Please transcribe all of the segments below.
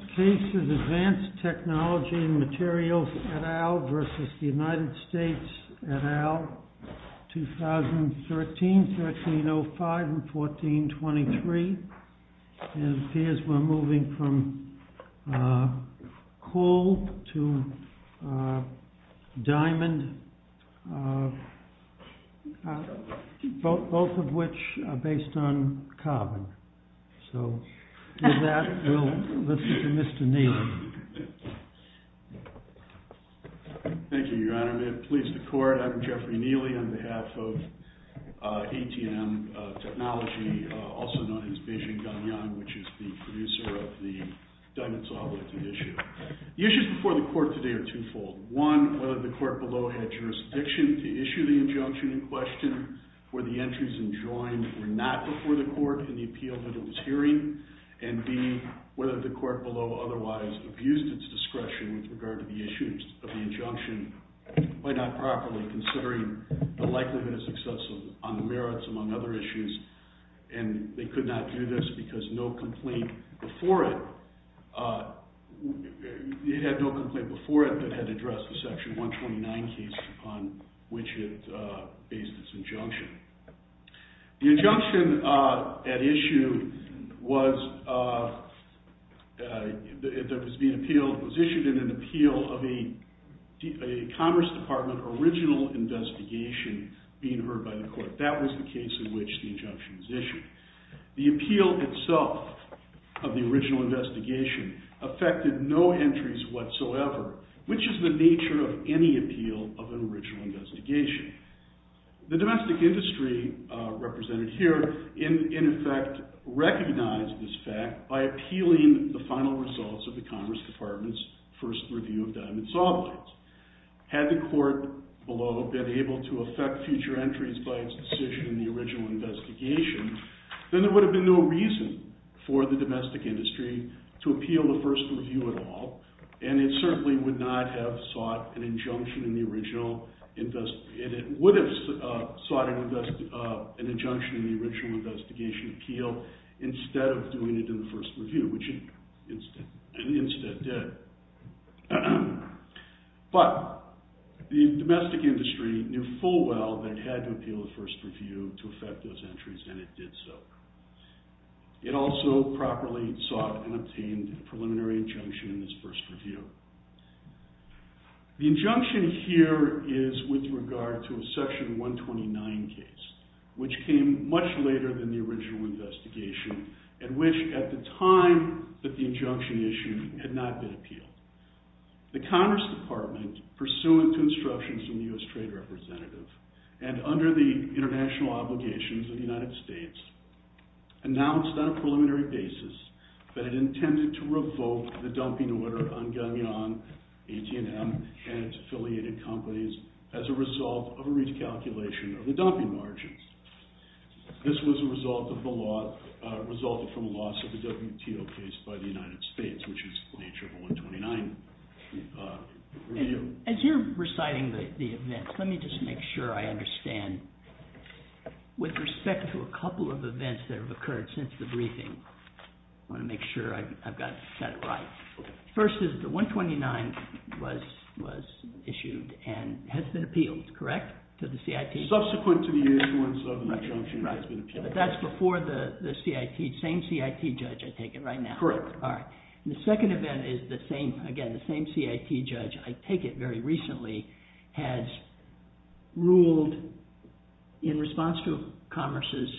This case is ADVANCED TECHNOLOGY and Materials, et al. v. United States, et al., 2013, 1305, and 1423. It appears we're moving from coal to diamond, both of which are based on carbon. So with that, we'll listen to Mr. Neely. Thank you, Your Honor. May it please the Court, I'm Jeffrey Neely on behalf of ATM Technology, also known as Beijing Gangyang, which is the producer of the Diamond Solidity issue. The issues before the Court today are two-fold. One, whether the Court below had jurisdiction to issue the injunction in question, were the entries enjoined or not before the Court in the appeal that it was hearing. And B, whether the Court below otherwise abused its discretion with regard to the issues of the injunction by not properly considering the likelihood of success on the merits, among other issues. And they could not do this because no complaint before it, it had no complaint before it that had addressed the Section 129 case upon which it based its injunction. The injunction at issue was issued in an appeal of a Commerce Department original investigation being heard by the Court. That was the case in which the injunction was issued. The appeal itself of the original investigation affected no entries whatsoever, which is the nature of any appeal of an original investigation. The domestic industry represented here, in effect, recognized this fact by appealing the final results of the Commerce Department's first review of diamond saw blades. Had the Court below been able to affect future entries by its decision in the original investigation, then there would have been no reason for the domestic industry to appeal the first review at all. And it certainly would not have sought an injunction in the original investigation, and it would have sought an injunction in the original investigation appeal instead of doing it in the first review, which it instead did. But the domestic industry knew full well that it had to appeal the first review to affect those entries, and it did so. It also properly sought and obtained a preliminary injunction in this first review. The injunction here is with regard to a Section 129 case, which came much later than the original investigation, and which at the time that the injunction issued had not been appealed. The Commerce Department, pursuant to instructions from the U.S. Trade Representative, and under the international obligations of the United States, announced on a preliminary basis that it intended to revoke the dumping order on Gunion, AT&M, and its affiliated companies as a result of a recalculation of the dumping margins. This was a result of a lawsuit, a WTO case by the United States, which is the nature of a 129 review. As you're reciting the events, let me just make sure I understand. With respect to a couple of events that have occurred since the briefing, I want to make sure I've got that right. First is the 129 was issued and has been appealed, correct, to the CIT? Subsequent to the issuance of an injunction, it has been appealed. But that's before the CIT, same CIT judge, I take it, right now? Correct. The second event is the same, again, the same CIT judge, I take it, very recently, has ruled in response to Commerce's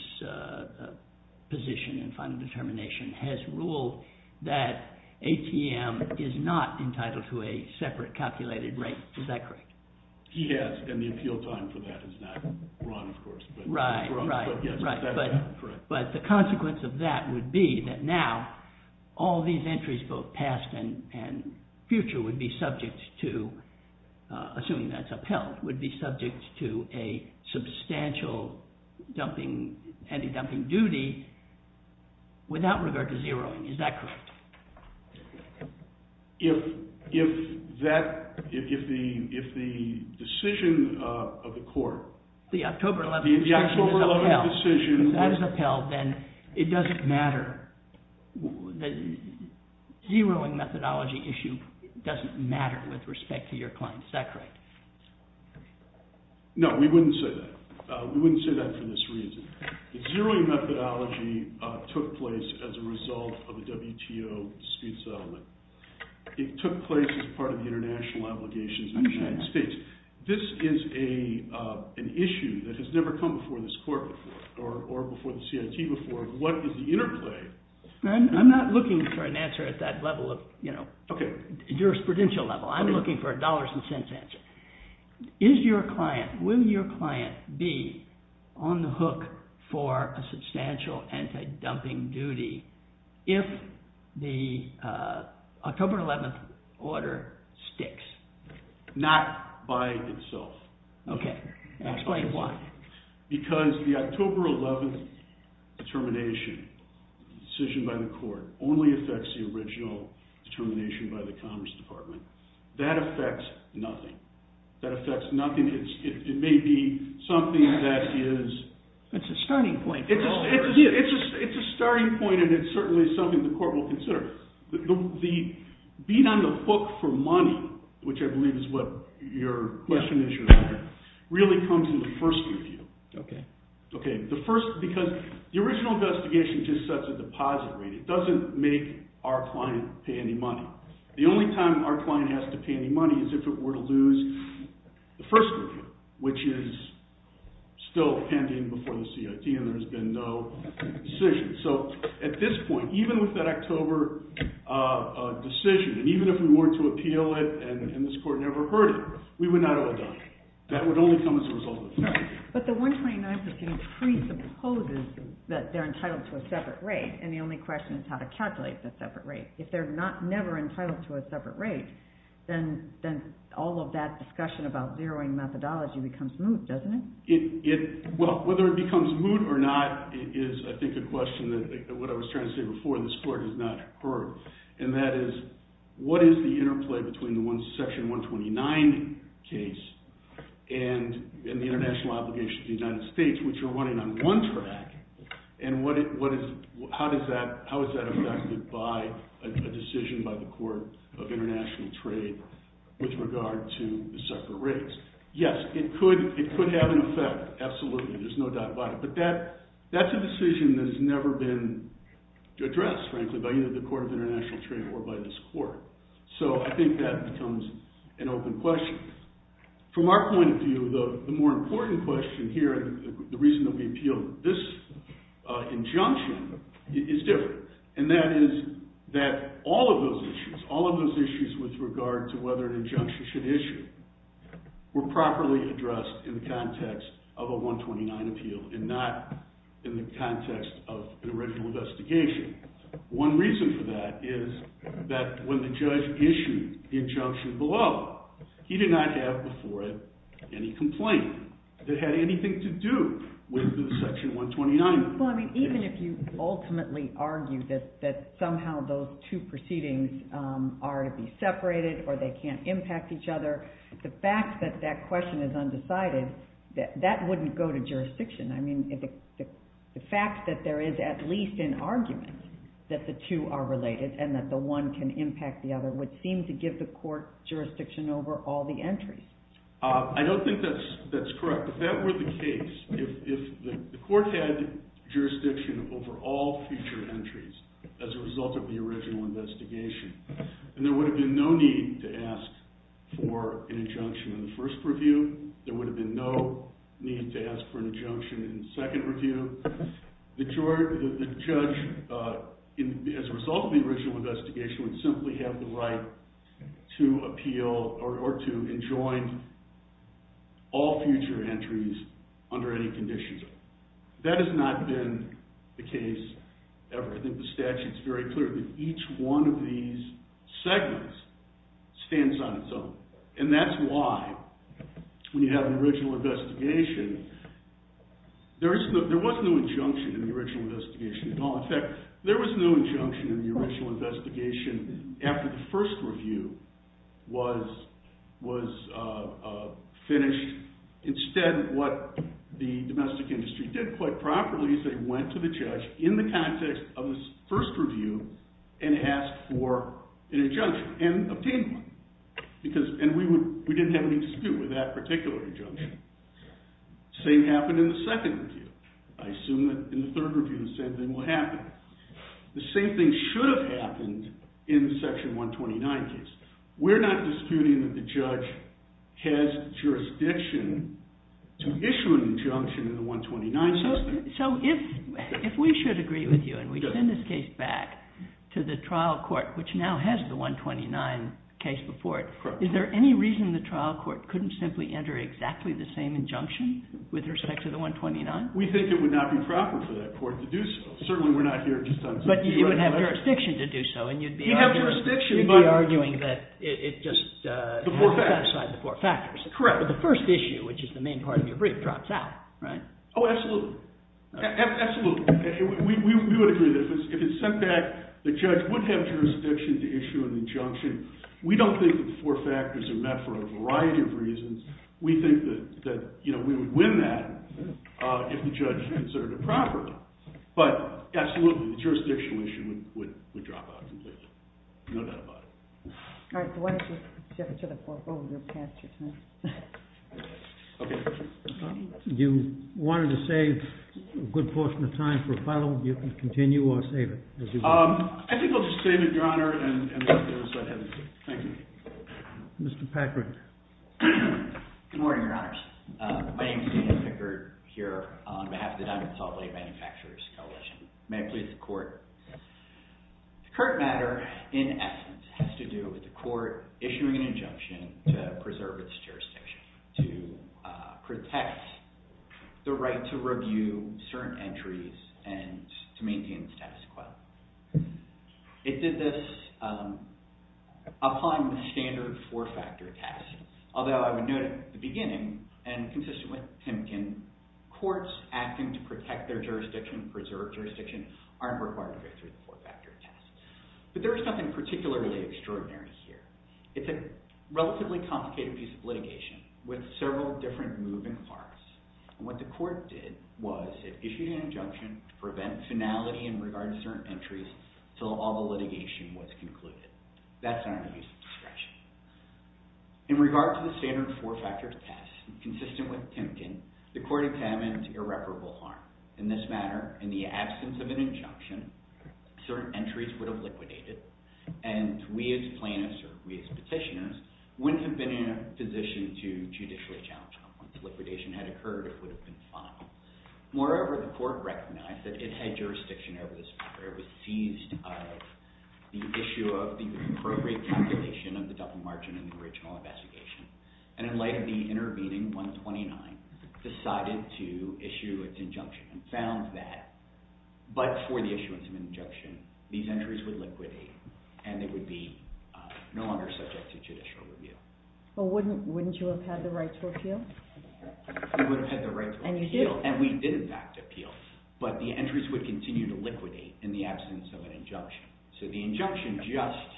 position in final determination, has ruled that AT&M is not entitled to a separate calculated rate. Is that correct? Yes, and the appeal time for that is not run, of course. But the consequence of that would be that now all these entries, both past and future, would be subject to, assuming that's upheld, would be subject to a substantial anti-dumping duty without regard to zeroing. Is that correct? If that, if the decision of the court, the October 11 decision is upheld, then it doesn't matter, the zeroing methodology issue doesn't matter with respect to your client's SEC rate. No, we wouldn't say that. We wouldn't say that for this reason. The zeroing methodology took place as a result of a WTO dispute settlement. It took place as part of the international obligations in the United States. This is an issue that has never come before this court before, or before the CIT before. What is the interplay? I'm not looking for an answer at that level of, you know, jurisprudential level. I'm looking for a dollars and cents answer. Is your client, will your client be on the hook for a substantial anti-dumping duty if the October 11 order sticks, not by itself? Okay, explain why. Because the October 11 determination, decision by the court, only affects the original determination by the Commerce Department. That affects nothing. That affects nothing. It may be something that is... That's a starting point. It's a starting point and it's certainly something the court will consider. Being on the hook for money, which I believe is what your question is, really comes in the first review. Okay. So, at this point, even with that October decision, and even if we were to appeal it and this court never heard it, we would not have it done. That would only come as a result of a dispute. But the 129 proceeding presupposes that they're entitled to a separate rate, and the only question is how to calculate the separate rate. If they're not, never entitled to a separate rate, then all of that discussion about zeroing methodology becomes moot, doesn't it? Well, whether it becomes moot or not is, I think, a question that, what I was trying to say before, this court has not heard. And that is, what is the interplay between the section 129 case and the international obligation to the United States, which are running on one track, and how is that affected by a decision by the Court of International Trade with regard to the separate rates? Yes, it could have an effect, absolutely. There's no doubt about it. But that's a decision that has never been addressed, frankly, by either the Court of International Trade or by this court. So, I think that becomes an open question. From our point of view, the more important question here, the reason that we appealed this injunction, is different. And that is that all of those issues, all of those issues with regard to whether an injunction should issue, were properly addressed in the context of a 129 appeal and not in the context of the original investigation. One reason for that is that when the judge issued the injunction below, he did not have before it any complaint that had anything to do with the section 129. Well, I mean, even if you ultimately argue that somehow those two proceedings are to be separated or they can't impact each other, the fact that that question is undecided, that wouldn't go to jurisdiction. I mean, the fact that there is at least an argument that the two are related and that the one can impact the other would seem to give the court jurisdiction over all the entries. I don't think that's correct. If that were the case, if the court had jurisdiction over all future entries as a result of the original investigation, and there would have been no need to ask for an injunction in the first review, there would have been no need to ask for an injunction in the second review, the judge, as a result of the original investigation, would simply have the right to appeal or to enjoin all future entries under any conditions. That has not been the case ever. I think the statute is very clear that each one of these segments stands on its own. And that's why, when you have an original investigation, there was no injunction in the original investigation at all. In fact, there was no injunction in the original investigation after the first review was finished. Instead, what the domestic industry did quite properly is they went to the judge in the context of the first review and asked for an injunction and obtained one. And we didn't have any dispute with that particular injunction. Same happened in the second review. I assume that in the third review the same thing will happen. The same thing should have happened in the section 129 case. We're not disputing that the judge has jurisdiction to issue an injunction in the 129 system. So, if we should agree with you and we send this case back to the trial court, which now has the 129 case before it, is there any reason the trial court couldn't simply enter exactly the same injunction with respect to the 129? We think it would not be proper for that court to do so. Certainly, we're not here just on security. But you would have jurisdiction to do so, and you'd be arguing that it just satisfied the four factors. Correct. But the first issue, which is the main part of your brief, drops out, right? Oh, absolutely. Absolutely. We would agree that if it's sent back, the judge would have jurisdiction to issue an injunction. We don't think that the four factors are met for a variety of reasons. We think that we would win that if the judge answered it properly. But, absolutely, the jurisdictional issue would drop out completely. No doubt about it. All right, so why don't you shift to the fourth rule and then pass your time. Okay. You wanted to save a good portion of time for a follow-up. You can continue or save it. I think I'll just save it, Your Honor, and let the other side have it. Thank you. Mr. Packard. Good morning, Your Honors. My name is Daniel Pickard here on behalf of the Diamond Salt Lake Manufacturers Coalition. May I please the court? Yes. The current matter, in essence, has to do with the court issuing an injunction to preserve its jurisdiction, to protect the right to review certain entries and to maintain the status quo. It did this upon the standard four-factor test. Although I would note at the beginning, and consistent with Timken, courts acting to protect their jurisdiction, preserve jurisdiction, aren't required to go through the four-factor test. But there is something particularly extraordinary here. It's a relatively complicated piece of litigation with several different moving parts. What the court did was it issued an injunction to prevent finality in regard to certain entries until all the litigation was concluded. That's under the use of discretion. In regard to the standard four-factor test, consistent with Timken, the court examined irreparable harm. In this matter, in the absence of an injunction, certain entries would have liquidated. And we as plaintiffs, or we as petitioners, wouldn't have been in a position to judicially challenge them. Once the liquidation had occurred, it would have been final. Moreover, the court recognized that it had jurisdiction over this matter. It was seized of the issue of the appropriate calculation of the double margin in the original investigation. And in light of the intervening 129, decided to issue an injunction and found that, but for the issuance of an injunction, these entries would liquidate and they would be no longer subject to judicial review. But wouldn't you have had the right to appeal? We would have had the right to appeal. And you did. And we did, in fact, appeal. But the entries would continue to liquidate in the absence of an injunction. So the injunction just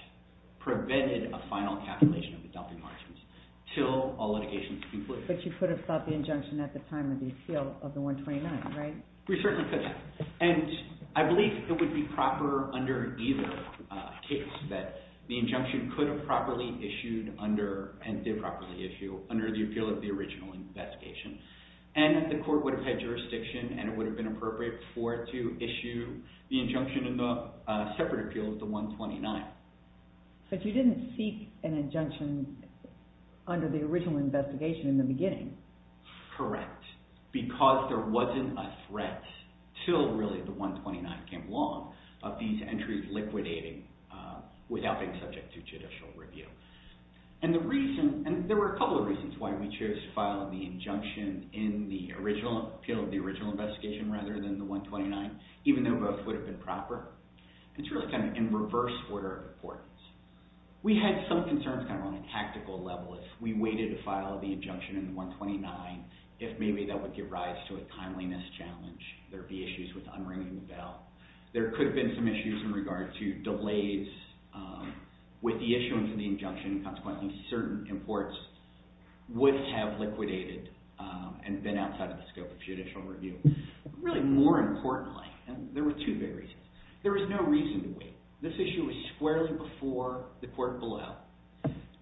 prevented a final calculation of the double margins until all litigations concluded. But you could have stopped the injunction at the time of the appeal of the 129, right? We certainly could have. And I believe it would be proper under either case that the injunction could have properly issued under, and did properly issue, under the appeal of the original investigation. And the court would have had jurisdiction and it would have been appropriate for it to issue the injunction in the separate appeal of the 129. But you didn't seek an injunction under the original investigation in the beginning. Correct. Because there wasn't a threat until really the 129 came along of these entries liquidating without being subject to judicial review. And there were a couple of reasons why we chose to file the injunction in the appeal of the original investigation rather than the 129, even though both would have been proper. It's really kind of in reverse order of importance. We had some concerns kind of on a tactical level. If we waited to file the injunction in the 129, if maybe that would give rise to a timeliness challenge, there would be issues with unringing the bell. There could have been some issues in regard to delays with the issuance of the injunction. Consequently, certain imports would have liquidated and been outside of the scope of judicial review. Really, more importantly, there were two big reasons. There was no reason to wait. This issue was squarely before the court pulled out.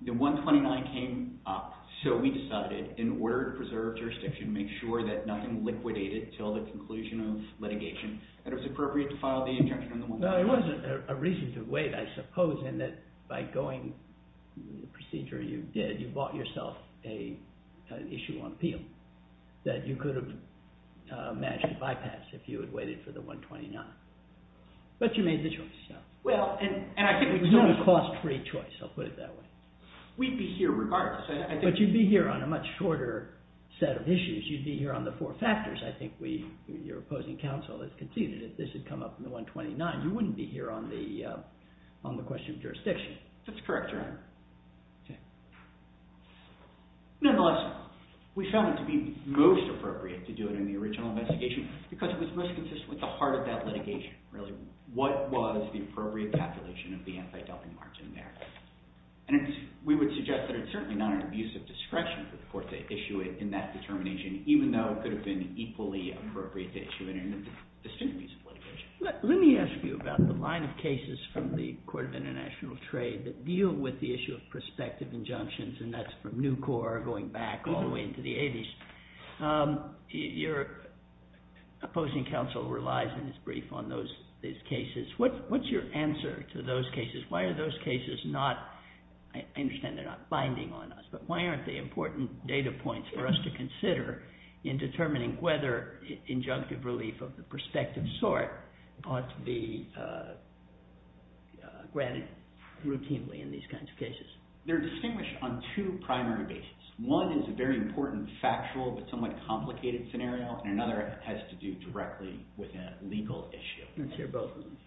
The 129 came up, so we decided in order to preserve jurisdiction, make sure that nothing liquidated until the conclusion of litigation that it was appropriate to file the injunction in the 129. There was a reason to wait, I suppose, in that by going through the procedure you did, you bought yourself an issue on appeal that you could have managed to bypass if you had waited for the 129. But you made the choice. It was not a cost-free choice. I'll put it that way. We'd be here regardless. But you'd be here on a much shorter set of issues. You'd be here on the four factors. I think your opposing counsel has conceded that if this had come up in the 129, you wouldn't be here on the question of jurisdiction. That's correct, Your Honor. Okay. Nonetheless, we found it to be most appropriate to do it in the original investigation because it was most consistent with the heart of that litigation, really. What was the appropriate calculation of the anti-dumping marks in there? And we would suggest that it's certainly not an abuse of discretion for the court to issue it in that determination, even though it could have been equally appropriate to issue it in a distinct abuse of litigation. Let me ask you about the line of cases from the Court of International Trade that deal with the issue of prospective injunctions, and that's from Nucor going back all the way into the 80s. Your opposing counsel relies in his brief on those cases. What's your answer to those cases? Why are those cases not – I understand they're not binding on us, but why aren't they important data points for us to consider in determining whether injunctive relief of the prospective sort ought to be granted routinely in these kinds of cases? They're distinguished on two primary bases. One is a very important factual but somewhat complicated scenario, and another has to do directly with a legal issue. Let's hear both of them.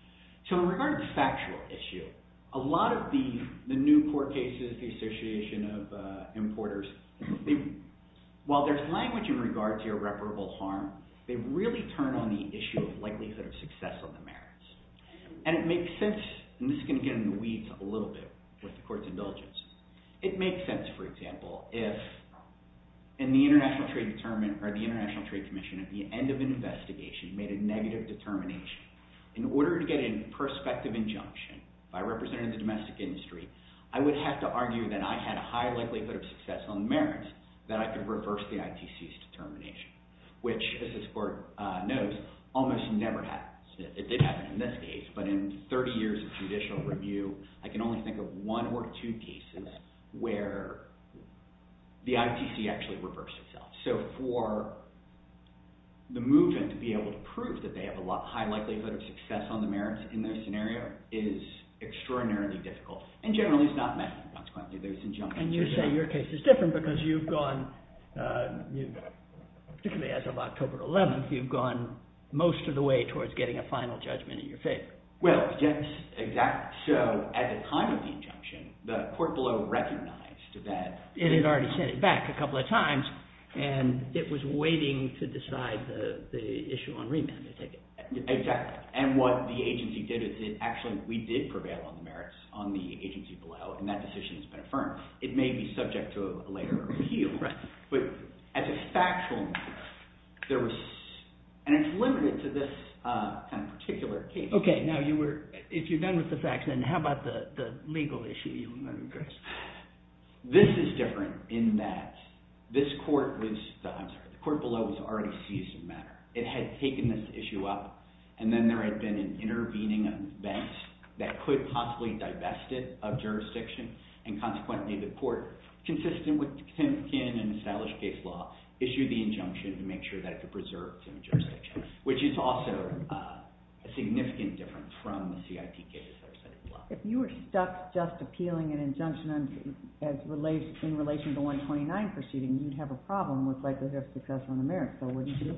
So in regard to the factual issue, a lot of the new court cases, the Association of Importers, while there's language in regard to irreparable harm, they really turn on the issue of likelihood of success on the merits. And it makes sense – and this is going to get in the weeds a little bit with the court's indulgence. It makes sense, for example, if in the International Trade Commission at the end of an investigation made a negative determination. In order to get a prospective injunction by representatives of domestic industry, I would have to argue that I had a high likelihood of success on the merits that I could reverse the ITC's determination, which, as this court knows, almost never happens. It did happen in this case, but in 30 years of judicial review, I can only think of one or two cases where the ITC actually reversed itself. So for the movement to be able to prove that they have a high likelihood of success on the merits in this scenario is extraordinarily difficult. And generally, it's not messy. And you say your case is different because you've gone – particularly as of October 11th, you've gone most of the way towards getting a final judgment in your favor. Well, yes, exactly. So at the time of the injunction, the court below recognized that… It had already sent it back a couple of times, and it was waiting to decide the issue on remand to take it. Exactly. And what the agency did is it actually – we did prevail on the merits on the agency below, and that decision has been affirmed. It may be subject to a later appeal. Right. But as a factual matter, there was – and it's limited to this kind of particular case. Okay. Now you were – if you're done with the facts, then how about the legal issue? This is different in that this court was – I'm sorry. The court below has already seized the matter. It had taken this issue up, and then there had been an intervening event that could possibly divest it of jurisdiction. And consequently, the court, consistent with Timkin and established case law, issued the injunction to make sure that it could preserve Timkin's jurisdiction, which is also a significant difference from the CIT cases that are set in law. Well, if you were stuck just appealing an injunction in relation to the 129 proceeding, you'd have a problem with likelihood of success on the merits. So wouldn't you?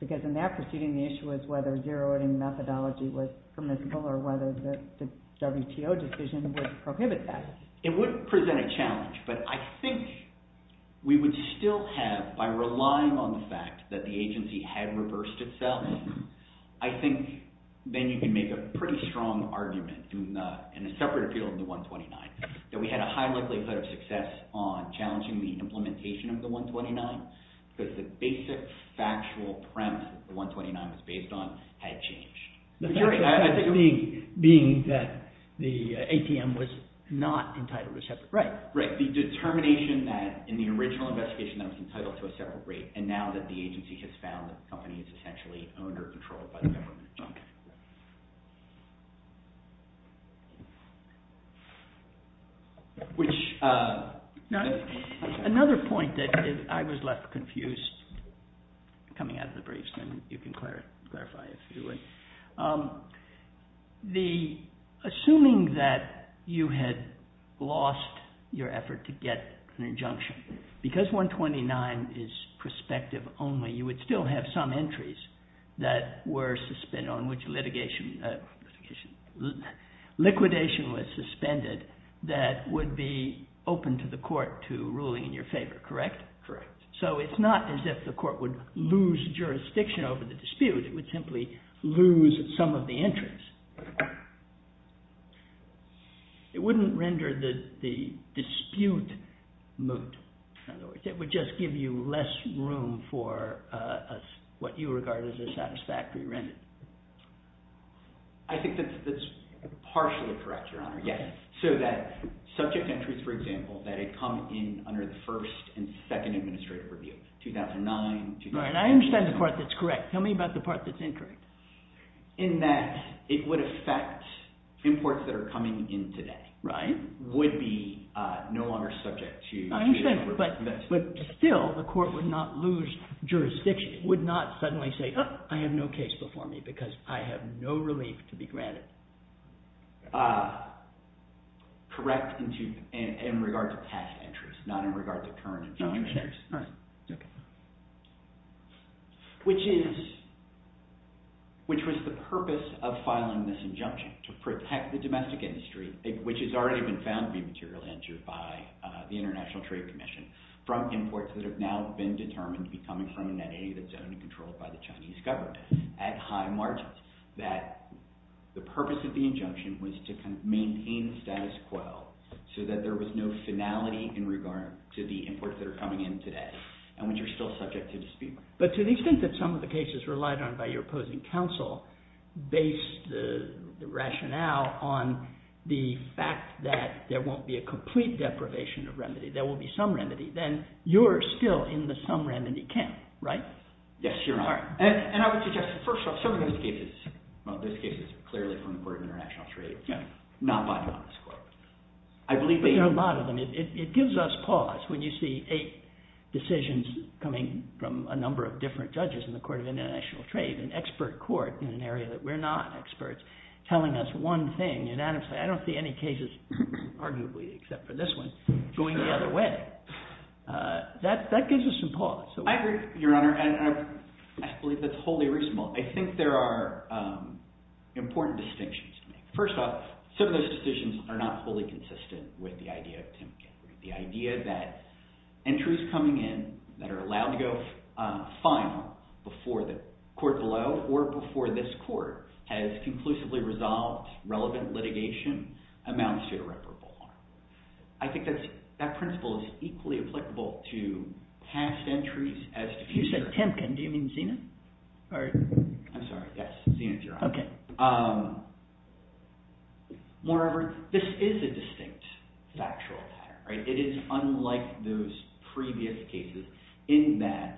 Because in that proceeding, the issue was whether zero-outing methodology was permissible or whether the WTO decision would prohibit that. But I think we would still have, by relying on the fact that the agency had reversed itself, I think then you can make a pretty strong argument in a separate appeal in the 129, that we had a high likelihood of success on challenging the implementation of the 129 because the basic factual premise that the 129 was based on had changed. I think being that the ATM was not entitled to a separate rate. Right. The determination that in the original investigation that it was entitled to a separate rate. And now that the agency has found that the company is essentially under control by the government. Another point that I was left confused coming out of the briefs, and you can clarify if you would. Assuming that you had lost your effort to get an injunction, because 129 is prospective only, you would still have some entries that were suspended on which liquidation was suspended that would be open to the court to ruling in your favor. Correct. So it's not as if the court would lose jurisdiction over the dispute, it would simply lose some of the entries. It wouldn't render the dispute moot. In other words, it would just give you less room for what you regard as a satisfactory rendering. I think that's partially correct, Your Honor. So that subject entries, for example, that had come in under the first and second administrative review, 2009. I understand the part that's correct. Tell me about the part that's incorrect. In that it would affect imports that are coming in today. Right. Would be no longer subject to... I understand, but still the court would not lose jurisdiction, would not suddenly say, I have no case before me because I have no relief to be granted. Correct in regard to past entries, not in regard to current and future entries. Okay. Which was the purpose of filing this injunction, to protect the domestic industry, which has already been found to be materially injured by the International Trade Commission, from imports that have now been determined to be coming from an entity that's owned and controlled by the Chinese government at high margins. That the purpose of the injunction was to kind of maintain the status quo, so that there was no finality in regard to the imports that are coming in today, and which are still subject to dispute. But to the extent that some of the cases relied on by your opposing counsel based the rationale on the fact that there won't be a complete deprivation of remedy, there will be some remedy, then you're still in the some remedy camp, right? Yes, Your Honor. All right. And I would suggest, first off, some of those cases, well, those cases are clearly from the Court of International Trade, not by you on this court. There are a lot of them. It gives us pause when you see eight decisions coming from a number of different judges in the Court of International Trade, an expert court in an area that we're not experts, telling us one thing unanimously. I don't see any cases, arguably, except for this one, going the other way. That gives us some pause. I agree, Your Honor, and I believe that's wholly reasonable. I think there are important distinctions to make. First off, some of those decisions are not fully consistent with the idea of Tim Kempery. The idea that entries coming in that are allowed to go final before the court below or before this court has conclusively resolved relevant litigation amounts to irreparable harm. I think that principle is equally applicable to past entries as to future entries. You said Temkin. Do you mean Zenith? I'm sorry. Yes, Zenith, Your Honor. Okay. Moreover, this is a distinct factual pattern. It is unlike those previous cases in that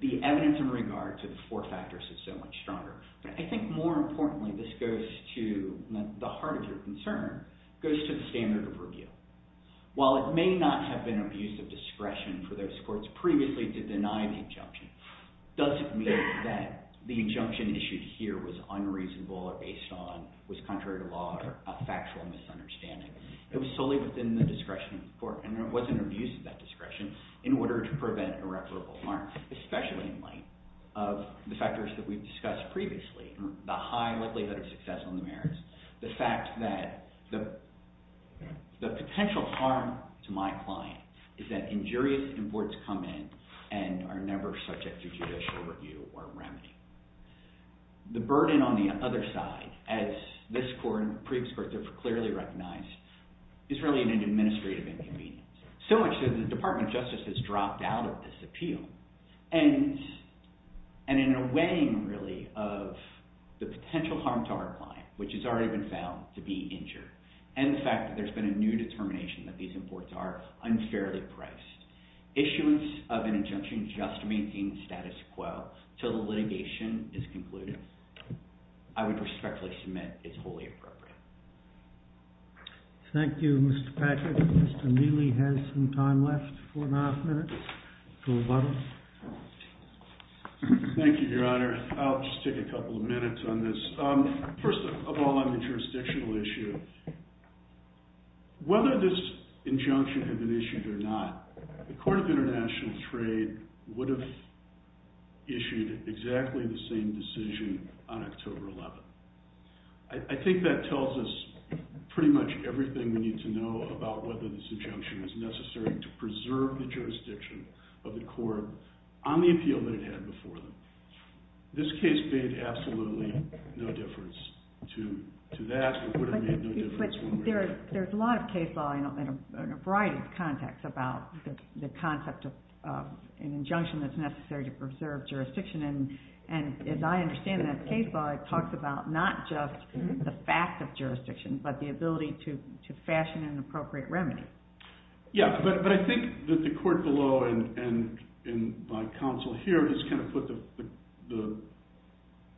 the evidence in regard to the four factors is so much stronger. I think, more importantly, this goes to the heart of your concern. It goes to the standard of review. While it may not have been abuse of discretion for those courts previously to deny the injunction, it doesn't mean that the injunction issued here was unreasonable or was contrary to law or a factual misunderstanding. It wasn't abuse of that discretion in order to prevent irreparable harm, especially in light of the factors that we've discussed previously, the high likelihood of success on the merits, the fact that the potential harm to my client is that injurious imports come in and are never subject to judicial review or remedy. The burden on the other side, as this court and previous courts have clearly recognized, is really an administrative inconvenience, so much so that the Department of Justice has dropped out of this appeal. In a way, really, of the potential harm to our client, which has already been found to be injured, and the fact that there's been a new determination that these imports are unfairly priced, issuance of an injunction just maintains status quo until the litigation is concluded. I would respectfully submit it's wholly appropriate. Thank you, Mr. Patrick. Mr. Neely has some time left, four and a half minutes. Thank you, Your Honor. I'll just take a couple of minutes on this. First of all, on the jurisdictional issue, whether this injunction had been issued or not, the Court of International Trade would have issued exactly the same decision on October 11th. I think that tells us pretty much everything we need to know about whether this injunction is necessary to preserve the jurisdiction of the court on the appeal that it had before them. This case made absolutely no difference to that. There's a lot of case law in a variety of contexts about the concept of an injunction that's necessary to preserve jurisdiction, and as I understand that case law, it talks about not just the fact of jurisdiction, but the ability to fashion an appropriate remedy. Yeah, but I think that the court below and my counsel here has kind of put the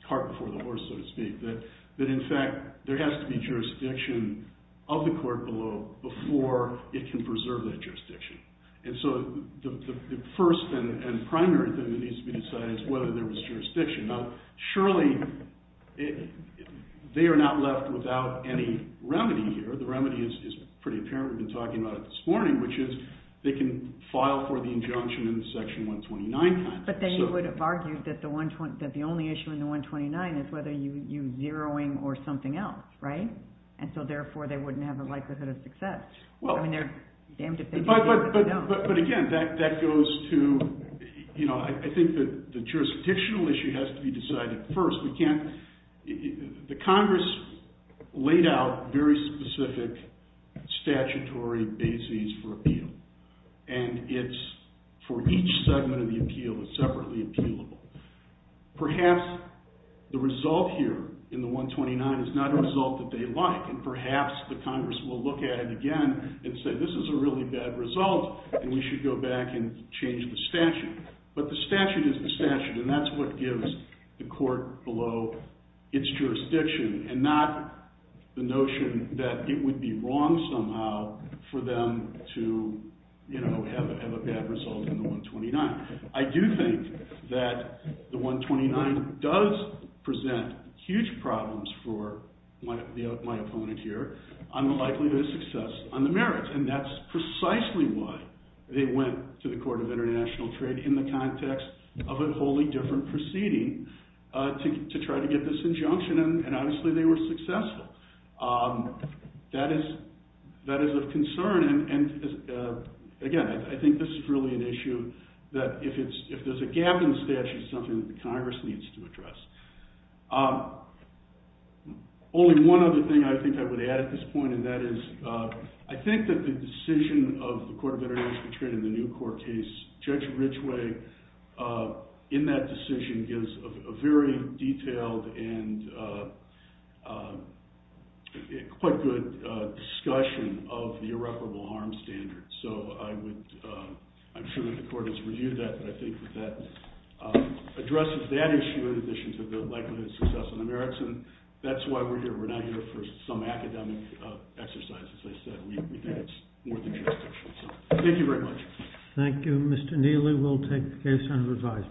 cart before the horse, so to speak, that in fact there has to be jurisdiction of the court below before it can preserve that jurisdiction. And so the first and primary thing that needs to be decided is whether there was jurisdiction. Now, surely they are not left without any remedy here. The remedy is pretty apparent. We've been talking about it this morning, which is they can file for the injunction in the Section 129 context. But then you would have argued that the only issue in the 129 is whether you use zeroing or something else, right? And so therefore they wouldn't have a likelihood of success. Well, but again, that goes to, you know, I think that the jurisdictional issue has to be decided first. The Congress laid out very specific statutory bases for appeal, and it's for each segment of the appeal that's separately appealable. Perhaps the result here in the 129 is not a result that they like, and perhaps the Congress will look at it again and say, this is a really bad result, and we should go back and change the statute. But the statute is the statute, and that's what gives the court below its jurisdiction, and not the notion that it would be wrong somehow for them to, you know, have a bad result in the 129. I do think that the 129 does present huge problems for my opponent here on the likelihood of success on the merits, and that's precisely why they went to the Court of International Trade in the context of a wholly different proceeding to try to get this injunction, and obviously they were successful. That is of concern, and again, I think this is really an issue that if there's a gap in the statute, it's something that the Congress needs to address. Only one other thing I think I would add at this point, and that is I think that the decision of the Court of International Trade in the New Court case, Judge Ridgway, in that decision, gives a very detailed and quite good discussion of the irreparable harm standard. So I'm sure that the Court has reviewed that, but I think that that addresses that issue in addition to the likelihood of success on the merits, and that's why we're here. We're not here for some academic exercise, as I said. We think it's more the jurisdiction. So thank you very much. Thank you. Mr. Neely, we'll take the case under review.